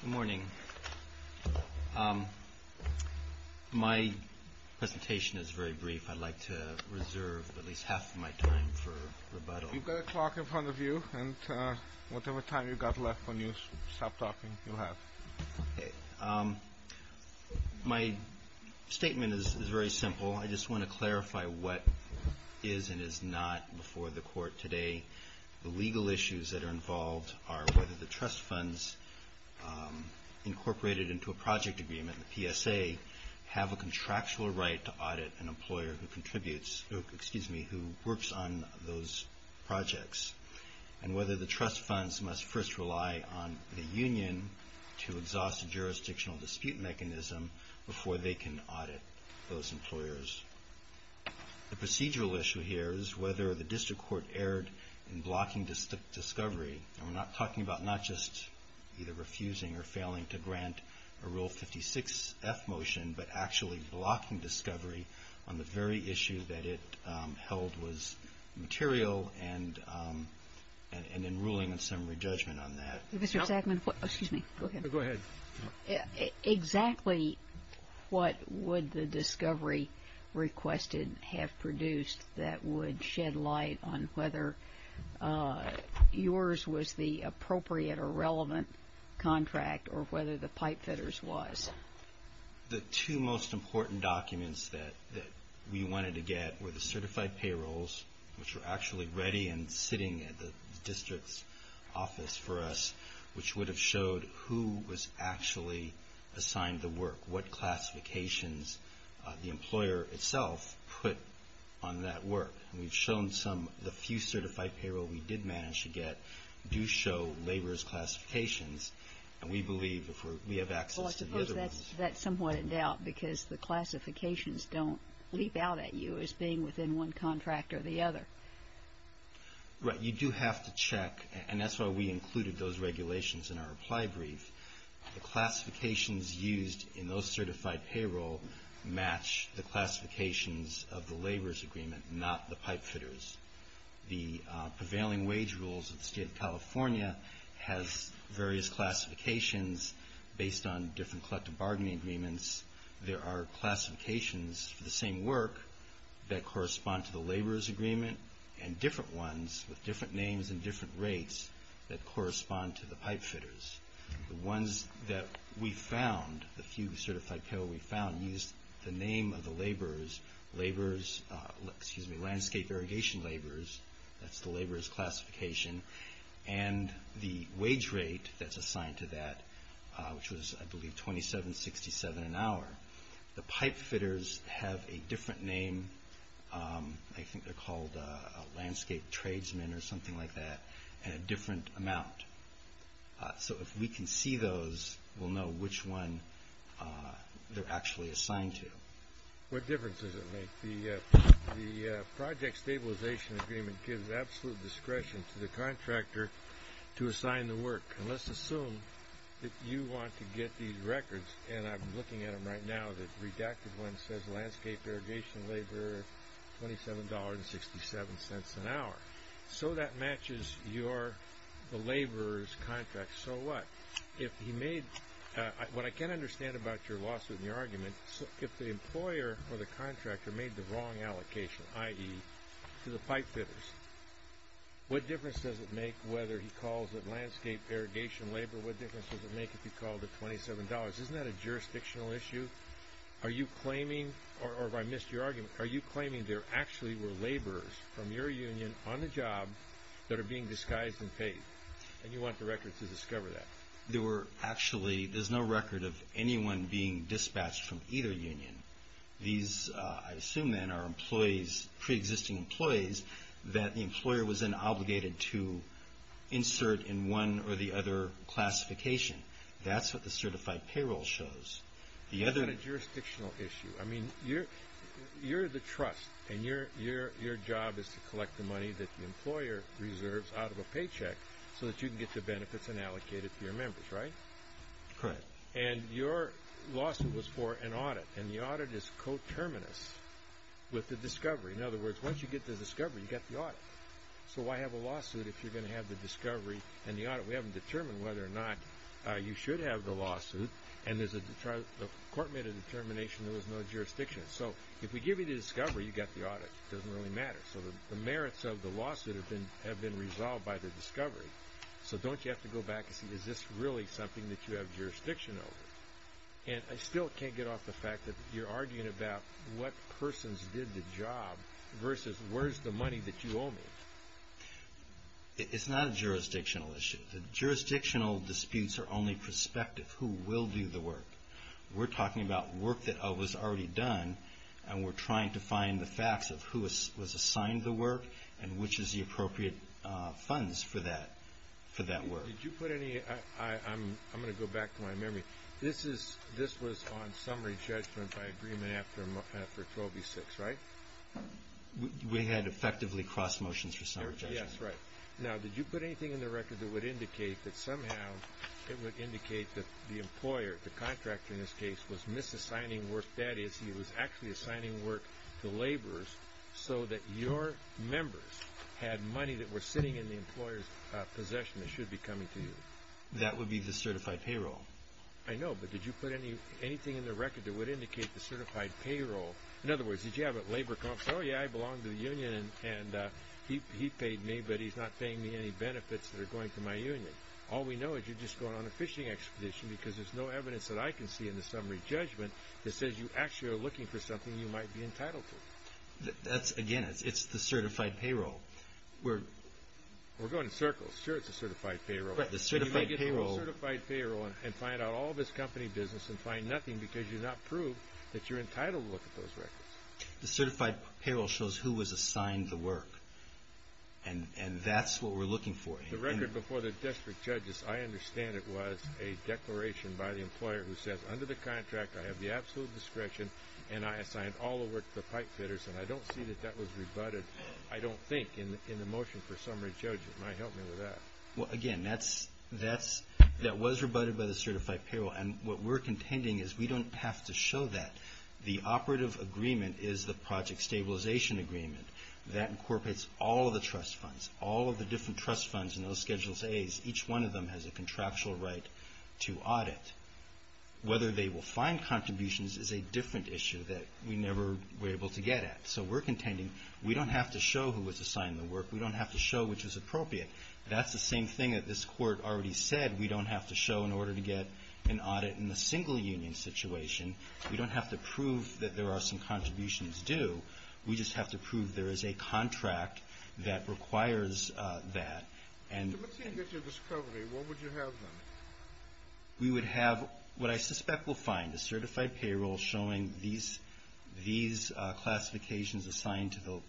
Good morning. My presentation is very brief. I'd like to reserve at least half of my time for rebuttal. You've got a clock in front of you, and whatever time you've got left when you stop talking, you'll have. Okay. My statement is very simple. I just want to clarify what is and is not before the Court today. The legal issues that are involved are whether the trust funds incorporated into a project agreement, the PSA, have a contractual right to audit an employer who works on those projects, and whether the trust funds must first rely on the union to exhaust a jurisdictional dispute mechanism before they can audit those employers. The procedural issue here is whether the district court erred in blocking discovery. And we're talking about not just either refusing or failing to grant a Rule 56-F motion, but actually blocking discovery on the very issue that it held was material and in ruling and summary judgment on that. Go ahead. Exactly what would the discovery requested have produced that would shed light on whether yours was the appropriate or relevant contract or whether the pipefitters was? The two most important documents that we wanted to get were the certified payrolls, which were actually ready and sitting at the district's office for us, which would have showed who was actually assigned the work, what classifications the employer itself put on that work. And we've shown the few certified payrolls we did manage to get do show labor's classifications, and we believe if we have access to the other ones. Well, I suppose that's somewhat in doubt because the classifications don't leap out at you as being within one contract or the other. Right. You do have to check, and that's why we included those regulations in our apply brief. The classifications used in those certified payroll match the classifications of the laborers' agreement, not the pipefitters'. The prevailing wage rules of the State of California has various classifications based on different collective bargaining agreements. There are classifications for the same work that correspond to the laborers' agreement and different ones with different names and different rates that correspond to the pipefitters'. The ones that we found, the few certified payrolls we found, used the name of the laborers, landscape irrigation laborers, that's the laborers' classification, and the wage rate that's assigned to that, which was, I believe, $27.67 an hour. The pipefitters have a different name. I think they're called landscape tradesmen or something like that, and a different amount. So if we can see those, we'll know which one they're actually assigned to. What difference does it make? The project stabilization agreement gives absolute discretion to the contractor to assign the work. Let's assume that you want to get these records, and I'm looking at them right now, the redacted one says landscape irrigation laborer, $27.67 an hour. So that matches the laborer's contract. So what? What I can understand about your lawsuit and your argument, if the employer or the contractor made the wrong allocation, i.e., to the pipefitters, what difference does it make whether he calls it landscape irrigation labor? What difference does it make if he called it $27? Isn't that a jurisdictional issue? Are you claiming, or have I missed your argument, are you claiming there actually were laborers from your union on the job that are being disguised and paid, and you want the records to discover that? There were actually, there's no record of anyone being dispatched from either union. These, I assume then, are employees, preexisting employees, that the employer was then obligated to insert in one or the other classification. That's what the certified payroll shows. That's not a jurisdictional issue. I mean, you're the trust, and your job is to collect the money that the employer reserves out of a paycheck so that you can get the benefits and allocate it to your members, right? Correct. And your lawsuit was for an audit, and the audit is coterminous with the discovery. In other words, once you get the discovery, you got the audit. So why have a lawsuit if you're going to have the discovery and the audit? We haven't determined whether or not you should have the lawsuit, and the court made a determination there was no jurisdiction. So if we give you the discovery, you got the audit. It doesn't really matter. So the merits of the lawsuit have been resolved by the discovery. So don't you have to go back and see, is this really something that you have jurisdiction over? And I still can't get off the fact that you're arguing about what persons did the job versus where's the money that you owe me. It's not a jurisdictional issue. Jurisdictional disputes are only prospective, who will do the work. We're talking about work that was already done, and we're trying to find the facts of who was assigned the work and which is the appropriate funds for that work. Did you put any – I'm going to go back to my memory. This was on summary judgment by agreement after 12B6, right? We had effectively cross motions for summary judgment. Yes, right. Now, did you put anything in the record that would indicate that somehow it would indicate that the employer, the contractor in this case, was misassigning work, that is he was actually assigning work to laborers, so that your members had money that was sitting in the employer's possession that should be coming to you? That would be the certified payroll. I know, but did you put anything in the record that would indicate the certified payroll? In other words, did you have a laborer come up and say, oh, yeah, I belong to the union and he paid me, but he's not paying me any benefits that are going to my union. All we know is you're just going on a fishing expedition because there's no evidence that I can see in the summary judgment that says you actually are looking for something you might be entitled to. Again, it's the certified payroll. We're going in circles. Sure, it's a certified payroll, but you can't get through a certified payroll and find out all this company business and find nothing because you've not proved that you're entitled to look at those records. The certified payroll shows who was assigned the work, and that's what we're looking for. The record before the district judges, I understand it was a declaration by the employer who says, under the contract I have the absolute discretion and I assigned all the work to the pipe fitters, and I don't see that that was rebutted. I don't think in the motion for summary judgment. It might help me with that. Again, that was rebutted by the certified payroll, and what we're contending is we don't have to show that. The operative agreement is the project stabilization agreement. That incorporates all of the trust funds, all of the different trust funds in those Schedules A's. Each one of them has a contractual right to audit. Whether they will find contributions is a different issue that we never were able to get at. So we're contending we don't have to show who was assigned the work. We don't have to show which was appropriate. That's the same thing that this Court already said. We don't have to show in order to get an audit in the single union situation. We don't have to prove that there are some contributions due. We just have to prove there is a contract that requires that. If the machine gets your discovery, what would you have then? We would have what I suspect we'll find, a certified payroll showing these classifications assigned to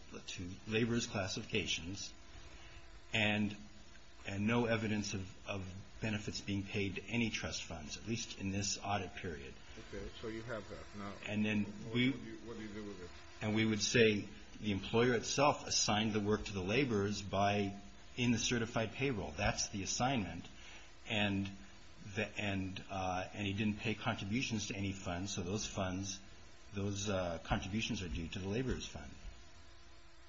laborers' classifications and no evidence of benefits being paid to any trust funds, at least in this audit period. Okay, so you have that now. What do you do with it? We would say the employer itself assigned the work to the laborers in the certified payroll. That's the assignment, and he didn't pay contributions to any funds, so those contributions are due to the laborers' fund.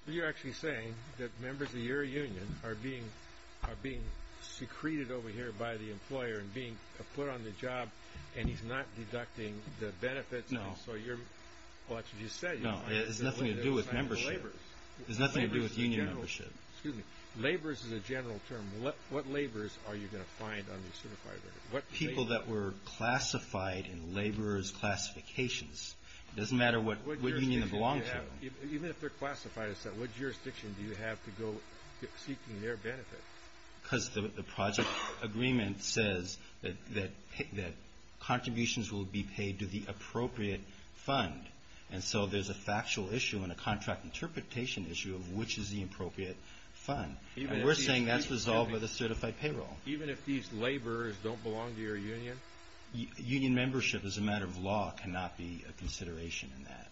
You're actually saying that members of your union are being secreted over here by the employer and being put on the job, and he's not deducting the benefits? No. Well, that's what you said. No, it has nothing to do with membership. It has nothing to do with union membership. Laborers is a general term. What laborers are you going to find on the certified payroll? People that were classified in laborers' classifications. It doesn't matter what union they belong to. Even if they're classified, what jurisdiction do you have to go seeking their benefits? Because the project agreement says that contributions will be paid to the appropriate fund, and so there's a factual issue and a contract interpretation issue of which is the appropriate fund. We're saying that's resolved by the certified payroll. Even if these laborers don't belong to your union? Union membership as a matter of law cannot be a consideration in that.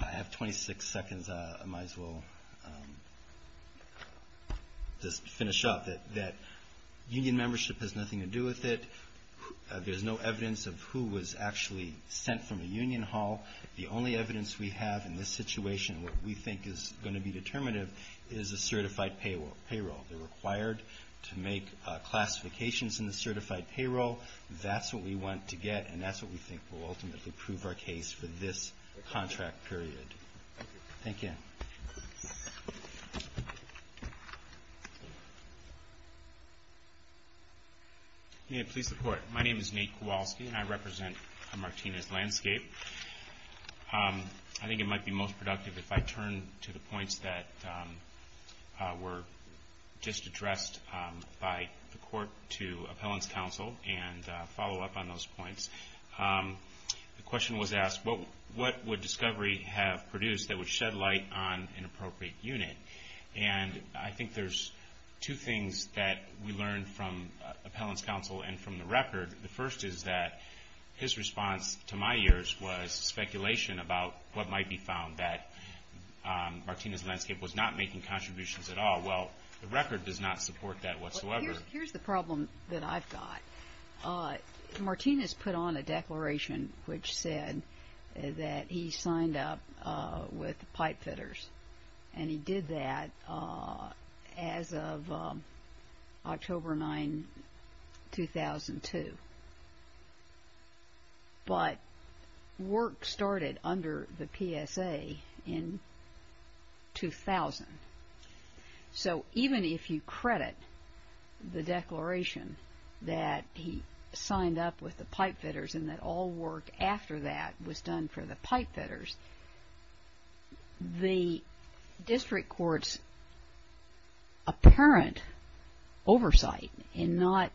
I have 26 seconds. I might as well just finish up that union membership has nothing to do with it. There's no evidence of who was actually sent from a union hall. The only evidence we have in this situation, what we think is going to be determinative, is a certified payroll. They're required to make classifications in the certified payroll. That's what we want to get, and that's what we think will ultimately prove our case for this contract period. Thank you. May it please the Court. My name is Nate Kowalski, and I represent Martinez Landscape. I think it might be most productive if I turn to the points that were just addressed by the Court to Appellant's Counsel and follow up on those points. The question was asked, what would Discovery have produced that would shed light on an appropriate unit? And I think there's two things that we learned from Appellant's Counsel and from the record. The first is that his response to my ears was speculation about what might be found, that Martinez Landscape was not making contributions at all. Well, the record does not support that whatsoever. Here's the problem that I've got. Martinez put on a declaration which said that he signed up with pipe fitters, and he did that as of October 9, 2002. But work started under the PSA in 2000. So even if you credit the declaration that he signed up with the pipe fitters and that all work after that was done for the pipe fitters, the district court's apparent oversight in not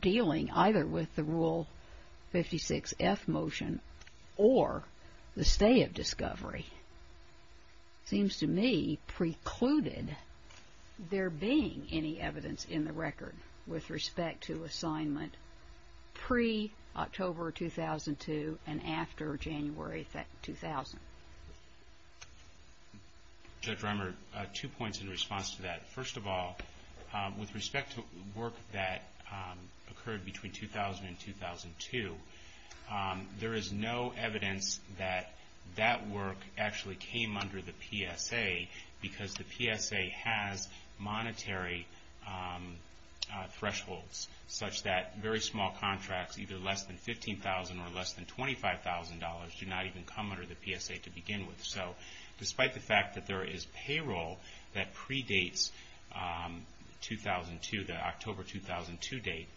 dealing either with the Rule 56F motion or the stay of Discovery seems to me precluded there being any evidence in the record with respect to assignment pre-October 2002 and after January 2000. Judge Rimer, two points in response to that. First of all, with respect to work that occurred between 2000 and 2002, there is no evidence that that work actually came under the PSA because the PSA has monetary thresholds such that very small contracts, either less than $15,000 or less than $25,000, do not even come under the PSA to begin with. So despite the fact that there is payroll that predates the October 2002 date,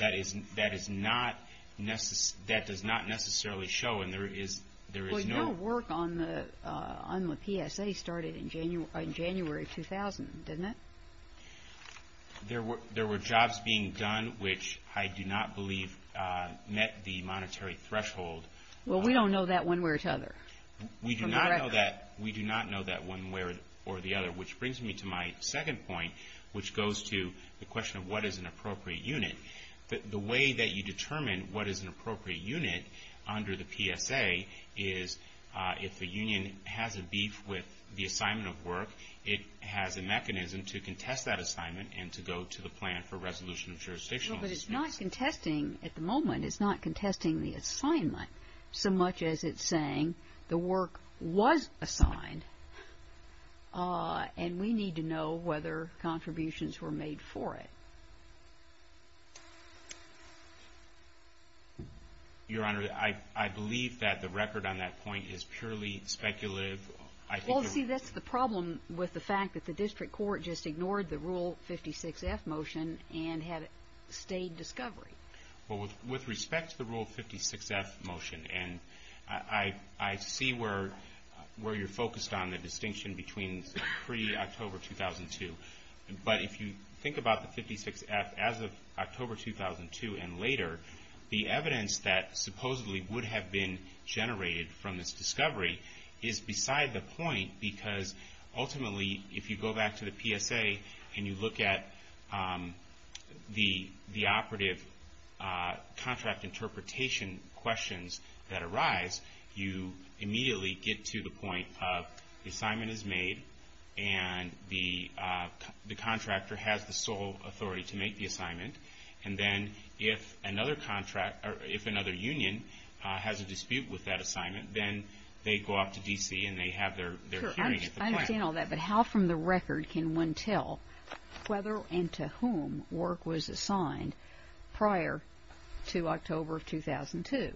that does not necessarily show, and there is no work on the PSA started in January 2000, doesn't it? There were jobs being done which I do not believe met the monetary threshold. Well, we don't know that one way or the other. We do not know that one way or the other, which brings me to my second point, which goes to the question of what is an appropriate unit. The way that you determine what is an appropriate unit under the PSA is if a union has a beef with the assignment of work, it has a mechanism to contest that assignment and to go to the plan for resolution of jurisdiction. Well, but it's not contesting at the moment. It's not contesting the assignment so much as it's saying the work was assigned and we need to know whether contributions were made for it. Your Honor, I believe that the record on that point is purely speculative. Well, see, that's the problem with the fact that the district court just ignored the Rule 56-F motion and had stayed discovery. Well, with respect to the Rule 56-F motion, and I see where you're focused on the distinction between pre-October 2002, but if you think about the 56-F as of October 2002 and later, the evidence that supposedly would have been generated from this discovery is beside the point because ultimately, if you go back to the PSA and you look at the operative contract interpretation questions that arise, you immediately get to the point of the assignment is made and the contractor has the sole authority to make the assignment, and then if another union has a dispute with that assignment, then they go up to D.C. and they have their hearing at the plant. Sure, I understand all that, but how from the record can one tell whether and to whom work was assigned prior to October of 2002?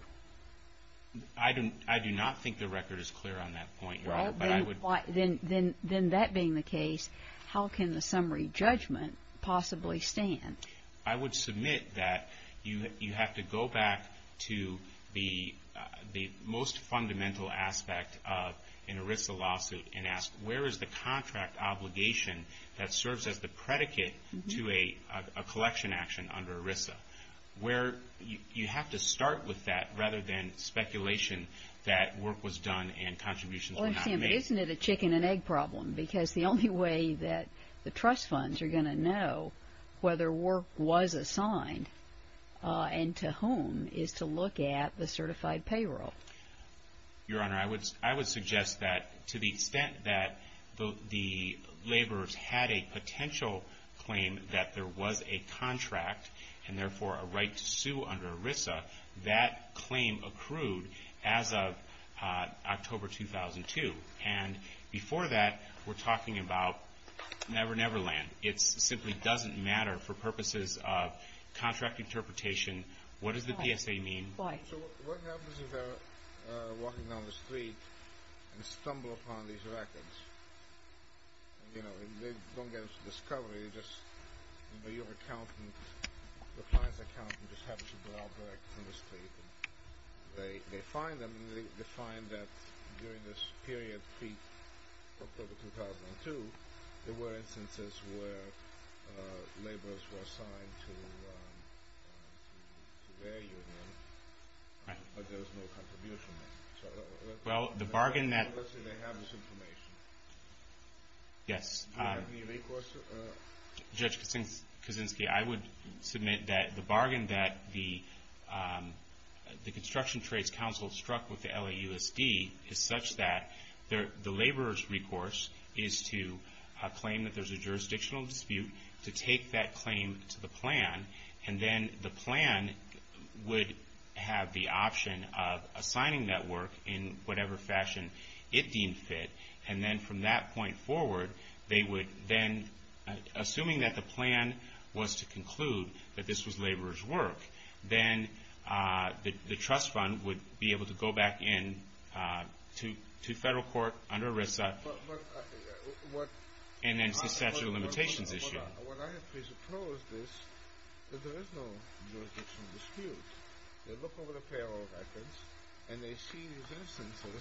I do not think the record is clear on that point, Your Honor, but I would... Well, then that being the case, how can the summary judgment possibly stand? I would submit that you have to go back to the most fundamental aspect of an ERISA lawsuit and ask where is the contract obligation that serves as the predicate to a collection action under ERISA, where you have to start with that rather than speculation that work was done and contributions were not made. Well, I understand, but isn't it a chicken and egg problem because the only way that the trust funds are going to know whether work was assigned and to whom is to look at the certified payroll? Your Honor, I would suggest that to the extent that the laborers had a potential claim that there was a contract and therefore a right to sue under ERISA, that claim accrued as of October 2002. And before that, we're talking about Never Never Land. It simply doesn't matter for purposes of contract interpretation. What does the PSA mean? So what happens if they're walking down the street and stumble upon these records? You know, they don't get a discovery. It's just that your accountant, the client's accountant, just happens to be out there on the street. They find them and they find that during this period of October 2002, there were instances where laborers were assigned to their union, but there was no contribution made. Let's say they have this information. Do you have any recourse? Judge Kaczynski, I would submit that the bargain that the Construction Trades Council struck with the LAUSD is such that the laborer's recourse is to claim that there's a jurisdictional dispute, to take that claim to the plan, and then the plan would have the option of assigning that work in whatever fashion it deemed fit. And then from that point forward, they would then, assuming that the plan was to conclude that this was laborer's work, then the trust fund would be able to go back in to federal court under ERISA. And then it's the statute of limitations issue. What I have presupposed is that there is no jurisdictional dispute. They look over the payroll records and they see these instances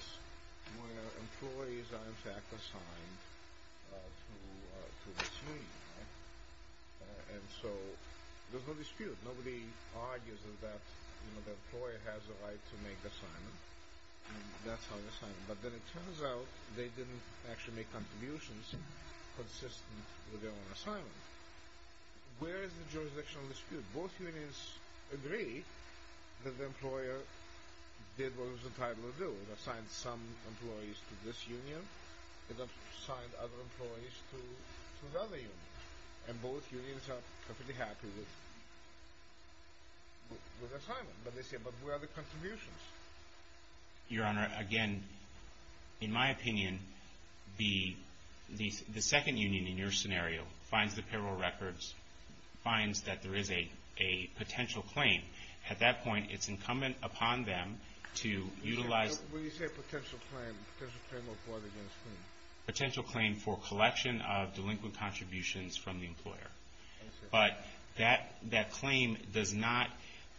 where employees are in fact assigned to this union. And so there's no dispute. Nobody argues that the employer has the right to make the assignment. But then it turns out they didn't actually make contributions consistent with their own assignment. Where is the jurisdictional dispute? Both unions agree that the employer did what was entitled to do. It assigned some employees to this union. It assigned other employees to the other union. And both unions are perfectly happy with the assignment. But they say, but where are the contributions? Your Honor, again, in my opinion, the second union in your scenario finds the payroll records, finds that there is a potential claim. At that point, it's incumbent upon them to utilize... When you say potential claim, potential claim of what against whom? Potential claim for collection of delinquent contributions from the employer. But that claim does not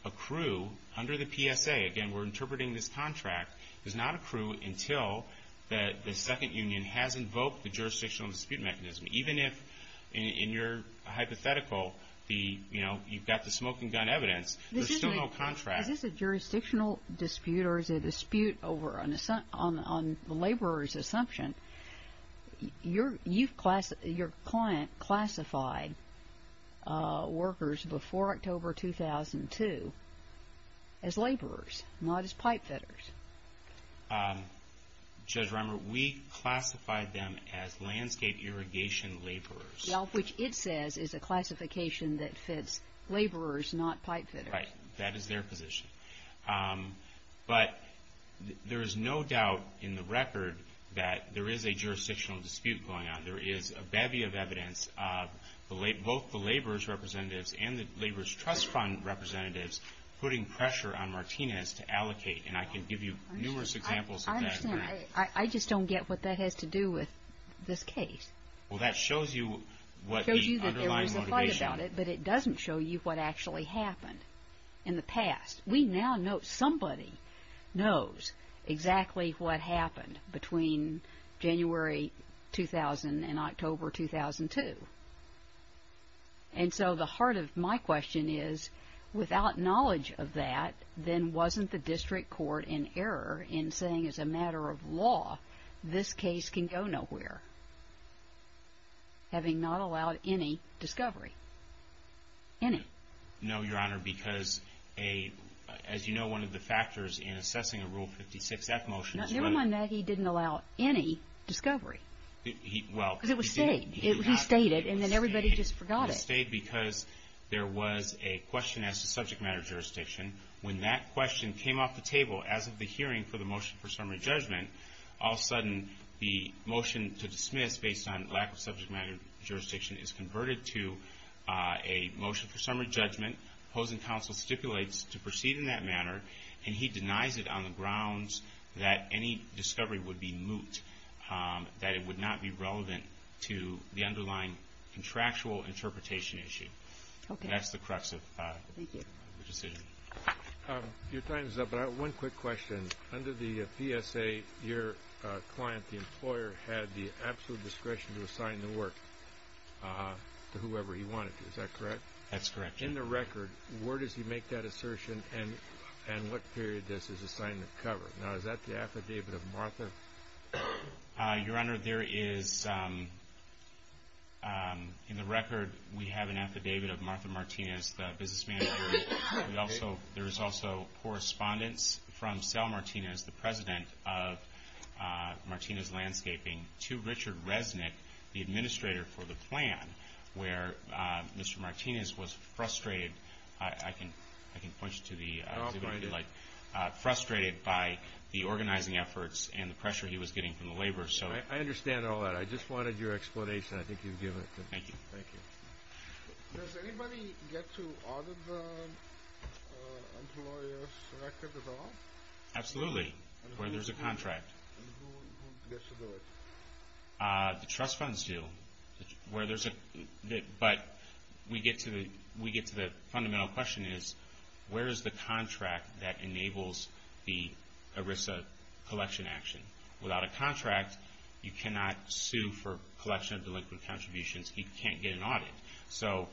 accrue under the PSA. Again, we're interpreting this contract. It does not accrue until the second union has invoked the jurisdictional dispute mechanism. Even if in your hypothetical, you've got the smoking gun evidence, there's still no contract. Is this a jurisdictional dispute or is it a dispute on the laborer's assumption? Your client classified workers before October 2002 as laborers, not as pipe fitters. Judge Rimer, we classified them as landscape irrigation laborers. Which it says is a classification that fits laborers, not pipe fitters. Right. That is their position. But there is no doubt in the record that there is a jurisdictional dispute going on. There is a bevy of evidence of both the laborer's representatives and the laborer's trust fund representatives putting pressure on Martinez to allocate. And I can give you numerous examples of that. I understand. I just don't get what that has to do with this case. Well, that shows you what the underlying motivation... It shows you that there was a fight about it, but it doesn't show you what actually happened in the past. We now know somebody knows exactly what happened between January 2000 and October 2002. And so the heart of my question is, without knowledge of that, then wasn't the district court in error in saying as a matter of law this case can go nowhere, having not allowed any discovery? Any? No, Your Honor, because as you know, one of the factors in assessing a Rule 56-F motion... Never mind that. He didn't allow any discovery. Well... Because it was stayed. He stayed it, and then everybody just forgot it. It was stayed because there was a question as to subject matter jurisdiction. When that question came off the table as of the hearing for the motion for summary judgment, all of a sudden the motion to dismiss based on lack of subject matter jurisdiction is converted to a motion for summary judgment. Opposing counsel stipulates to proceed in that manner, and he denies it on the grounds that any discovery would be moot, that it would not be relevant to the underlying contractual interpretation issue. Okay. That's the crux of the decision. Your time is up, but I have one quick question. Under the PSA, your client, the employer, had the absolute discretion to assign the work to whoever he wanted to. Is that correct? That's correct. In the record, where does he make that assertion, and what period does his assignment cover? Now, is that the affidavit of Martha? Your Honor, there is, in the record, we have an affidavit of Martha Martinez, the businessman. There is also correspondence from Sal Martinez, the president of Martinez Landscaping, to Richard Resnick, the administrator for the plan, where Mr. Martinez was frustrated. I can point you to the exhibit if you'd like. Frustrated by the organizing efforts and the pressure he was getting from the laborers. I understand all that. I just wanted your explanation. I think you've given it to me. Thank you. Thank you. Does anybody get to audit the employer's record at all? Absolutely, where there's a contract. And who gets to do it? The trust funds do, but we get to the fundamental question is, where is the contract that enables the ERISA collection action? Without a contract, you cannot sue for collection of delinquent contributions. You can't get an audit. So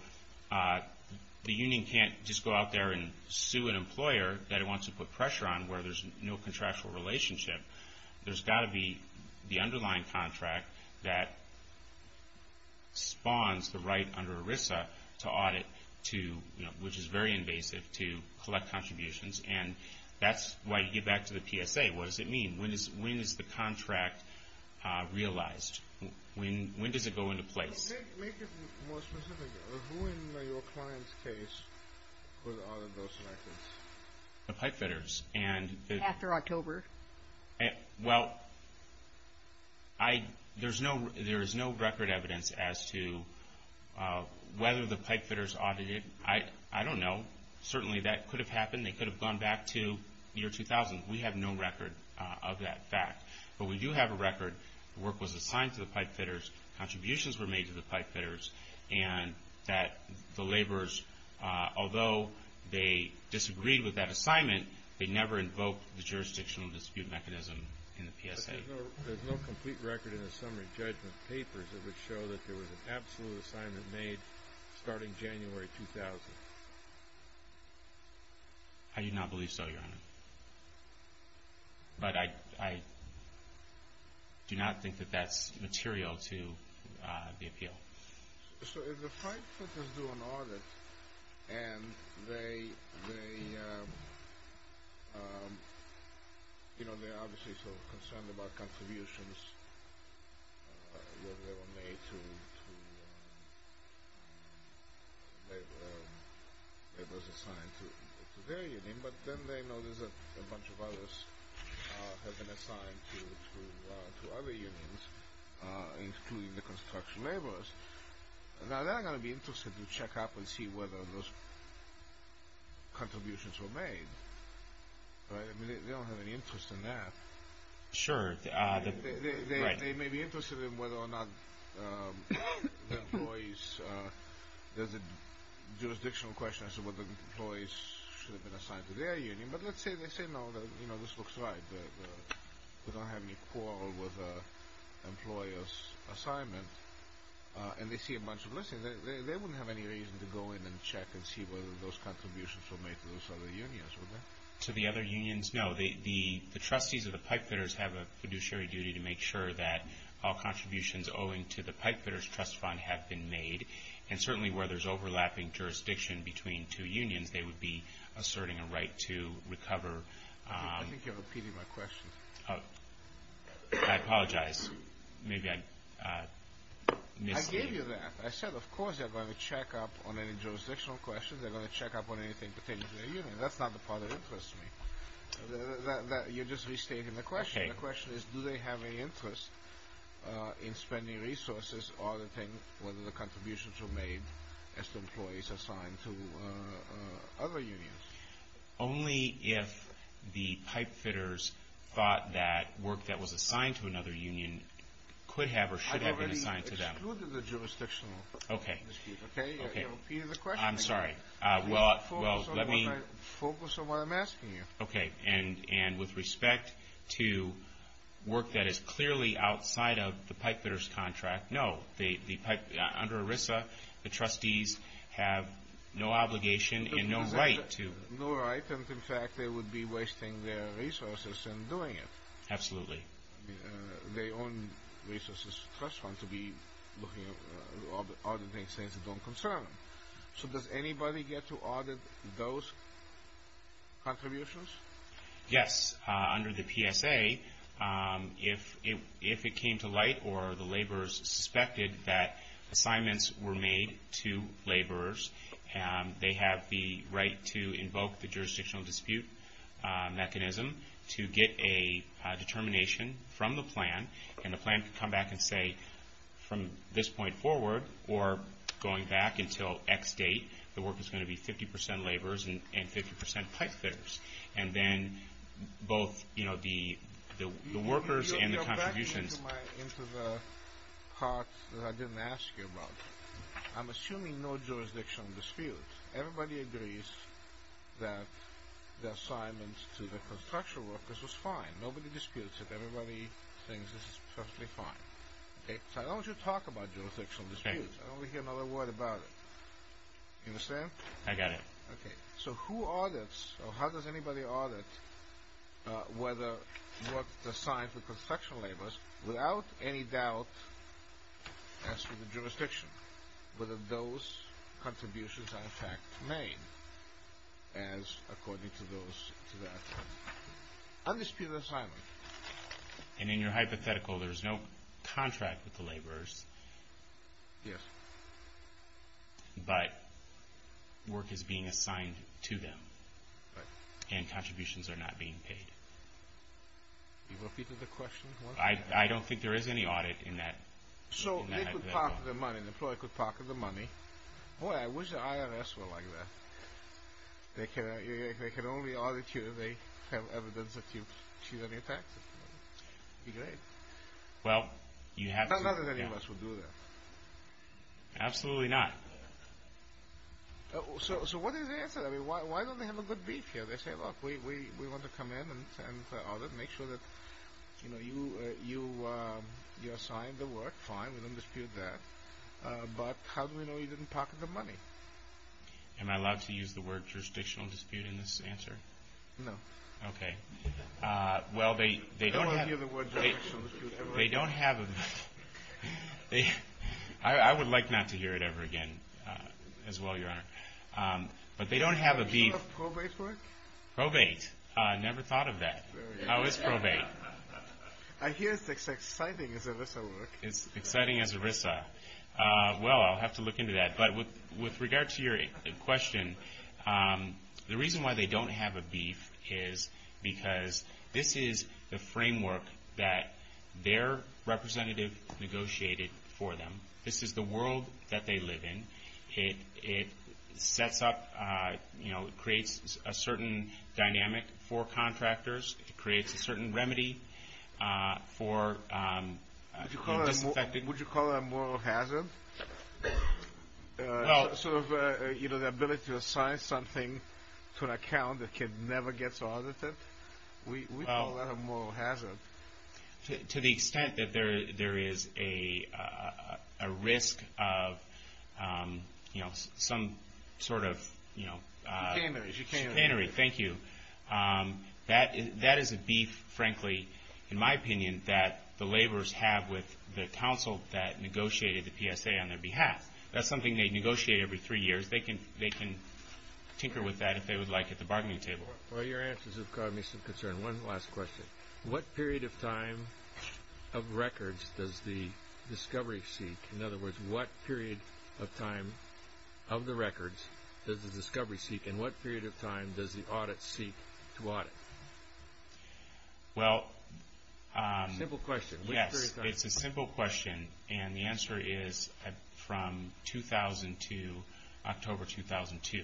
the union can't just go out there and sue an employer that it wants to put pressure on, where there's no contractual relationship. There's got to be the underlying contract that spawns the right under ERISA to audit, which is very invasive, to collect contributions. And that's why you get back to the PSA. What does it mean? When is the contract realized? When does it go into place? Make it more specific. Who in your client's case would audit those records? The pipefitters. After October. Well, there is no record evidence as to whether the pipefitters audited. I don't know. Certainly that could have happened. They could have gone back to the year 2000. We have no record of that fact. But we do have a record. The work was assigned to the pipefitters. Contributions were made to the pipefitters. And that the laborers, although they disagreed with that assignment, they never invoked the jurisdictional dispute mechanism in the PSA. There's no complete record in the summary judgment papers that would show that there was an absolute assignment made starting January 2000. I do not believe so, Your Honor. But I do not think that that's material to the appeal. So if the pipefitters do an audit, and they are obviously concerned about contributions that were made to laborers assigned to their union, but then they notice that a bunch of others have been assigned to other unions, including the construction laborers, now they're going to be interested to check up and see whether those contributions were made. I mean, they don't have any interest in that. Sure. They may be interested in whether or not the employees, there's a jurisdictional question as to whether the employees should have been assigned to their union. But let's say they say, no, this looks right. We don't have any quarrel with the employer's assignment. And they see a bunch of listings. They wouldn't have any reason to go in and check and see whether those contributions were made to those other unions, would they? To the other unions, no. The trustees of the pipefitters have a fiduciary duty to make sure that all contributions owing to the pipefitters' trust fund have been made. And certainly where there's overlapping jurisdiction between two unions, they would be asserting a right to recover. I think you're repeating my question. Oh, I apologize. Maybe I misled you. I gave you that. I said, of course they're going to check up on any jurisdictional questions. They're going to check up on anything pertaining to their union. That's not the part that interests me. You're just restating the question. The question is, do they have any interest in spending resources auditing whether the contributions were made as to employees assigned to other unions? Only if the pipefitters thought that work that was assigned to another union could have or should have been assigned to them. I've already excluded the jurisdictional dispute. Okay. You're repeating the question again. I'm sorry. Focus on what I'm asking you. And with respect to work that is clearly outside of the pipefitters' contract, no. Under ERISA, the trustees have no obligation and no right to. No right. And, in fact, they would be wasting their resources in doing it. Absolutely. They own resources to trust fund to be looking at auditing things that don't concern them. So does anybody get to audit those contributions? Yes. Under the PSA, if it came to light or the laborers suspected that assignments were made to laborers, they have the right to invoke the jurisdictional dispute mechanism to get a determination from the plan. And the plan can come back and say, from this point forward or going back until X date, the work is going to be 50% laborers and 50% pipefitters. And then both, you know, the workers and the contributions. Let me go back into the part that I didn't ask you about. I'm assuming no jurisdictional dispute. Everybody agrees that the assignments to the construction workers was fine. Nobody disputes it. Everybody thinks this is perfectly fine. Okay? So I don't want you to talk about jurisdictional disputes. I don't want to hear another word about it. You understand? I got it. Okay. So who audits or how does anybody audit whether work is assigned to construction laborers without any doubt as to the jurisdiction, whether those contributions are in fact made as according to that undisputed assignment. And in your hypothetical, there's no contract with the laborers. Yes. But work is being assigned to them. Right. And contributions are not being paid. You repeat the question? I don't think there is any audit in that. So they could pocket the money. The employer could pocket the money. Boy, I wish the IRS were like that. They can only audit you if they have evidence that you cheat on your taxes. Be great. Well, you have to. Not that any of us would do that. Absolutely not. So what is the answer? I mean, why don't they have a good brief here? They say, look, we want to come in and audit, make sure that, you know, you assigned the work. Fine. We don't dispute that. But how do we know you didn't pocket the money? Am I allowed to use the word jurisdictional dispute in this answer? No. Okay. I don't want to hear the word jurisdictional dispute ever again. They don't have a beef. I would like not to hear it ever again as well, Your Honor. But they don't have a beef. Are you sure of probate work? Probate? Never thought of that. How is probate? I hear it's as exciting as ERISA work. It's exciting as ERISA. Well, I'll have to look into that. But with regard to your question, the reason why they don't have a beef is because this is the framework that their representative negotiated for them. This is the world that they live in. It sets up, you know, it creates a certain dynamic for contractors. It creates a certain remedy for the disaffected. Would you call that a moral hazard? Sort of, you know, the ability to assign something to an account that can never get audited? We call that a moral hazard. To the extent that there is a risk of, you know, some sort of chicanery. Thank you. That is a beef, frankly, in my opinion, that the laborers have with the counsel that negotiated the PSA on their behalf. That's something they negotiate every three years. They can tinker with that if they would like at the bargaining table. Well, your answers have caught me some concern. One last question. What period of time of records does the discovery seek? In other words, what period of time of the records does the discovery seek? And what period of time does the audit seek to audit? Well, it's a simple question. And the answer is from 2000 to October 2002.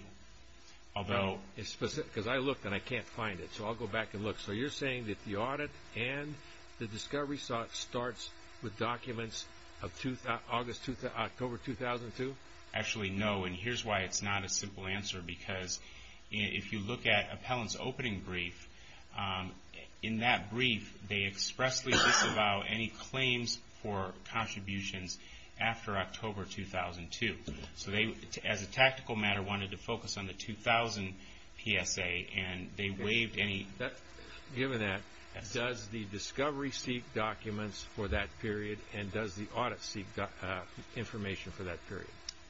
Because I looked and I can't find it. So I'll go back and look. So you're saying that the audit and the discovery starts with documents of October 2002? Actually, no. And here's why it's not a simple answer. Because if you look at Appellant's opening brief, in that brief, they expressly disavow any claims for contributions after October 2002. So they, as a tactical matter, wanted to focus on the 2000 PSA and they waived any. Given that, does the discovery seek documents for that period and does the audit seek information for that period?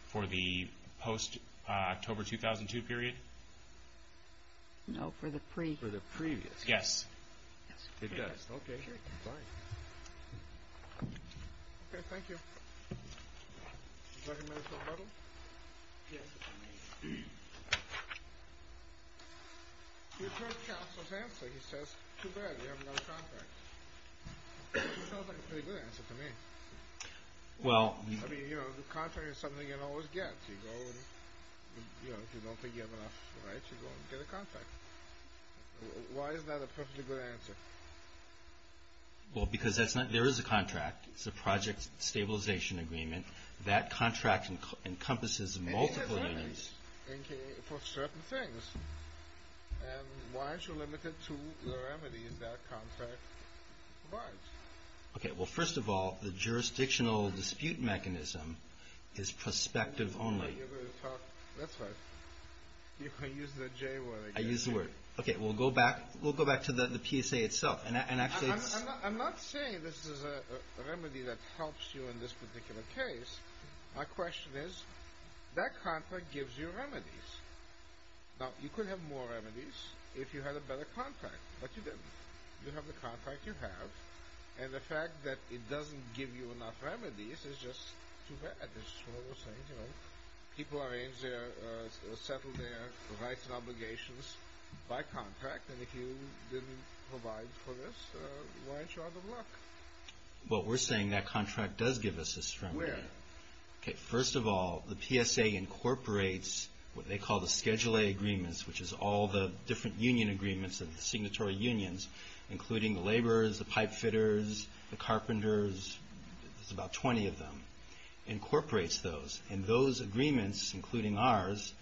For the post-October 2002 period? No, for the pre. For the previous. Yes. It does. Okay. Fine. Okay. Thank you. Is that a medical model? Yes. Your first counsel's answer, he says, too bad, we haven't got a contract. Sounds like a pretty good answer to me. Well. I mean, you know, a contract is something you can always get. So you go and, you know, if you don't think you have enough rights, you go and get a contract. Why is that a perfectly good answer? Well, because there is a contract. It's a project stabilization agreement. That contract encompasses multiple things. It is limited for certain things. And why is it limited to the remedies that contract provides? Okay. Well, first of all, the jurisdictional dispute mechanism is prospective only. That's right. You can use the J word. I use the word. Okay. We'll go back to the PSA itself. I'm not saying this is a remedy that helps you in this particular case. My question is, that contract gives you remedies. Now, you could have more remedies if you had a better contract. But you didn't. You have the contract you have. And the fact that it doesn't give you enough remedies is just too bad. This is what I was saying, you know. People arrange their or settle their rights and obligations by contract. And if you didn't provide for this, why aren't you out of luck? Well, we're saying that contract does give us a remedy. Where? Okay. First of all, the PSA incorporates what they call the Schedule A agreements, which is all the different union agreements and signatory unions, including the laborers, the pipe fitters, the carpenters. There's about 20 of them. Incorporates those. And those agreements, including ours,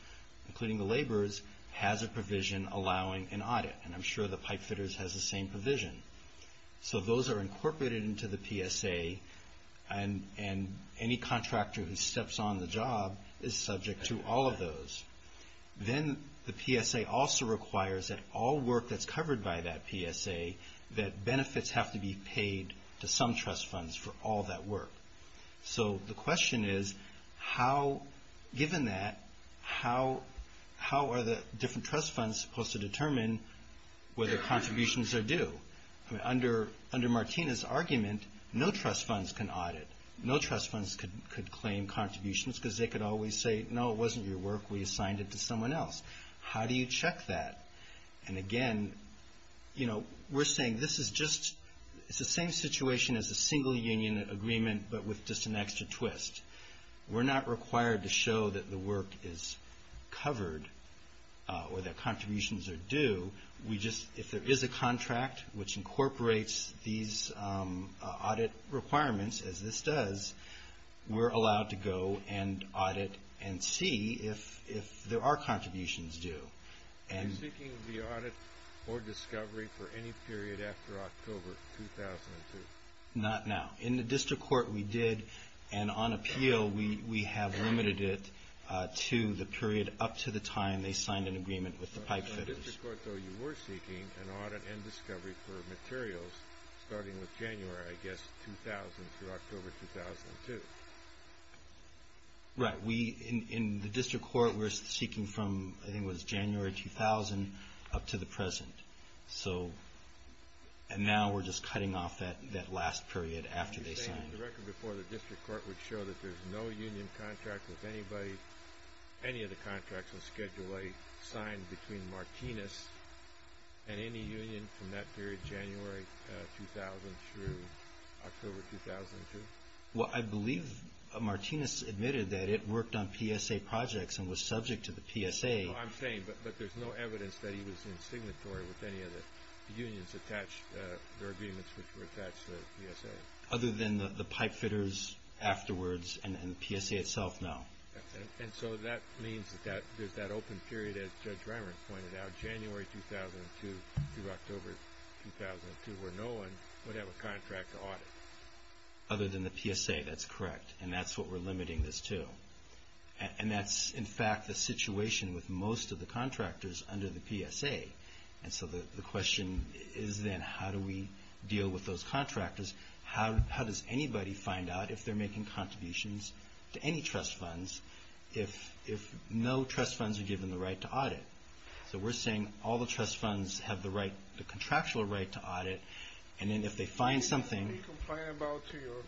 including the laborers, has a provision allowing an audit. And I'm sure the pipe fitters has the same provision. So those are incorporated into the PSA, and any contractor who steps on the job is subject to all of those. Then the PSA also requires that all work that's covered by that PSA, that benefits have to be paid to some trust funds for all that work. So the question is, given that, how are the different trust funds supposed to determine whether contributions are due? Under Martina's argument, no trust funds can audit. No trust funds could claim contributions because they could always say, no, it wasn't your work, we assigned it to someone else. How do you check that? And, again, we're saying this is just the same situation as a single union agreement, but with just an extra twist. We're not required to show that the work is covered or that contributions are due. If there is a contract which incorporates these audit requirements, as this does, we're allowed to go and audit and see if there are contributions due. Are you seeking the audit or discovery for any period after October 2002? Not now. In the district court we did, and on appeal we have limited it to the period up to the time they signed an agreement with the pipefitters. In the district court, though, you were seeking an audit and discovery for materials starting with January, I guess, 2000 through October 2002. Right. In the district court we're seeking from, I think it was January 2000 up to the present. And now we're just cutting off that last period after they signed. Are you saying the record before the district court would show that there's no union contract with anybody, any of the contracts on Schedule A signed between Martinez and any union from that period, January 2000 through October 2002? Well, I believe Martinez admitted that it worked on PSA projects and was subject to the PSA. I'm saying, but there's no evidence that he was in signatory with any of the unions attached, their agreements which were attached to the PSA. Other than the pipefitters afterwards and the PSA itself, no. And so that means that there's that open period, as Judge Remer pointed out, January 2002 through October 2002 where no one would have a contract to audit. Other than the PSA, that's correct, and that's what we're limiting this to. And that's, in fact, the situation with most of the contractors under the PSA. And so the question is then how do we deal with those contractors? How does anybody find out if they're making contributions to any trust funds if no trust funds are given the right to audit? So we're saying all the trust funds have the contractual right to audit, and then if they find something... Do you complain about to your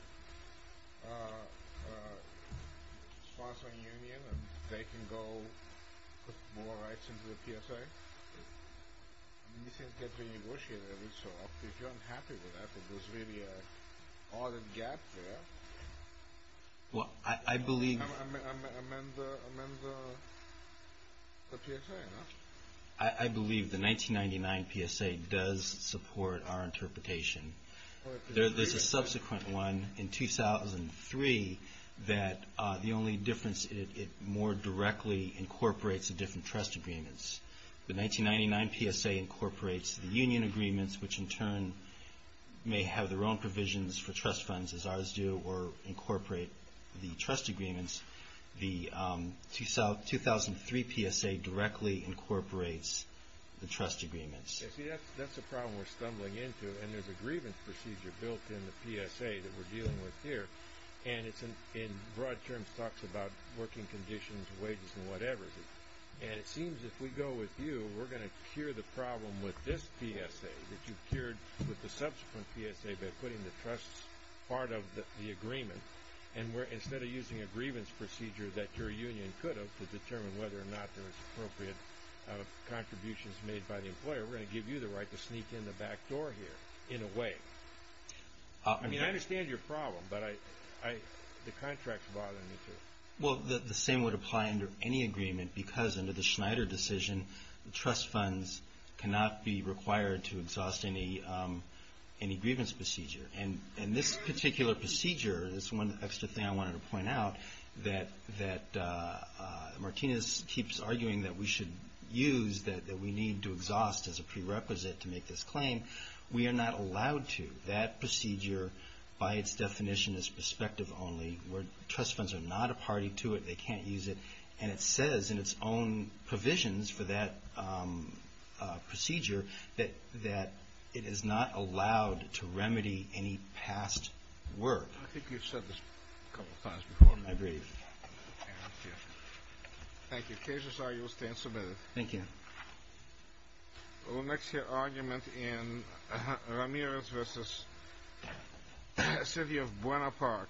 sponsoring union that they can go put more rights into the PSA? You can't get renegotiated every so often. If you're unhappy with that, there's really an audit gap there. Well, I believe... Amend the PSA, no? I believe the 1999 PSA does support our interpretation. There's a subsequent one in 2003 that the only difference, it more directly incorporates the different trust agreements. The 1999 PSA incorporates the union agreements, which in turn may have their own provisions for trust funds, as ours do, or incorporate the trust agreements. The 2003 PSA directly incorporates the trust agreements. See, that's the problem we're stumbling into, and there's a grievance procedure built in the PSA that we're dealing with here, and it's in broad terms talks about working conditions, wages, and whatever. And it seems if we go with you, we're going to cure the problem with this PSA that you cured with the subsequent PSA by putting the trust part of the agreement, and instead of using a grievance procedure that your union could have to determine whether or not there was appropriate contributions made by the employer, we're going to give you the right to sneak in the back door here, in a way. I mean, I understand your problem, but the contract's bothering me, too. Well, the same would apply under any agreement, because under the Schneider decision, trust funds cannot be required to exhaust any grievance procedure. And this particular procedure, this one extra thing I wanted to point out, that Martinez keeps arguing that we should use, that we need to exhaust as a prerequisite to make this claim, we are not allowed to. That procedure, by its definition, is prospective only, where trust funds are not a party to it, they can't use it, and it says in its own provisions for that procedure that it is not allowed to remedy any past work. I think you've said this a couple of times before. I agree. Thank you. Cases are you'll stand submitted. Thank you. We'll next hear argument in Ramirez v. City of Buena Park. Mr. Ramirez. Thank you.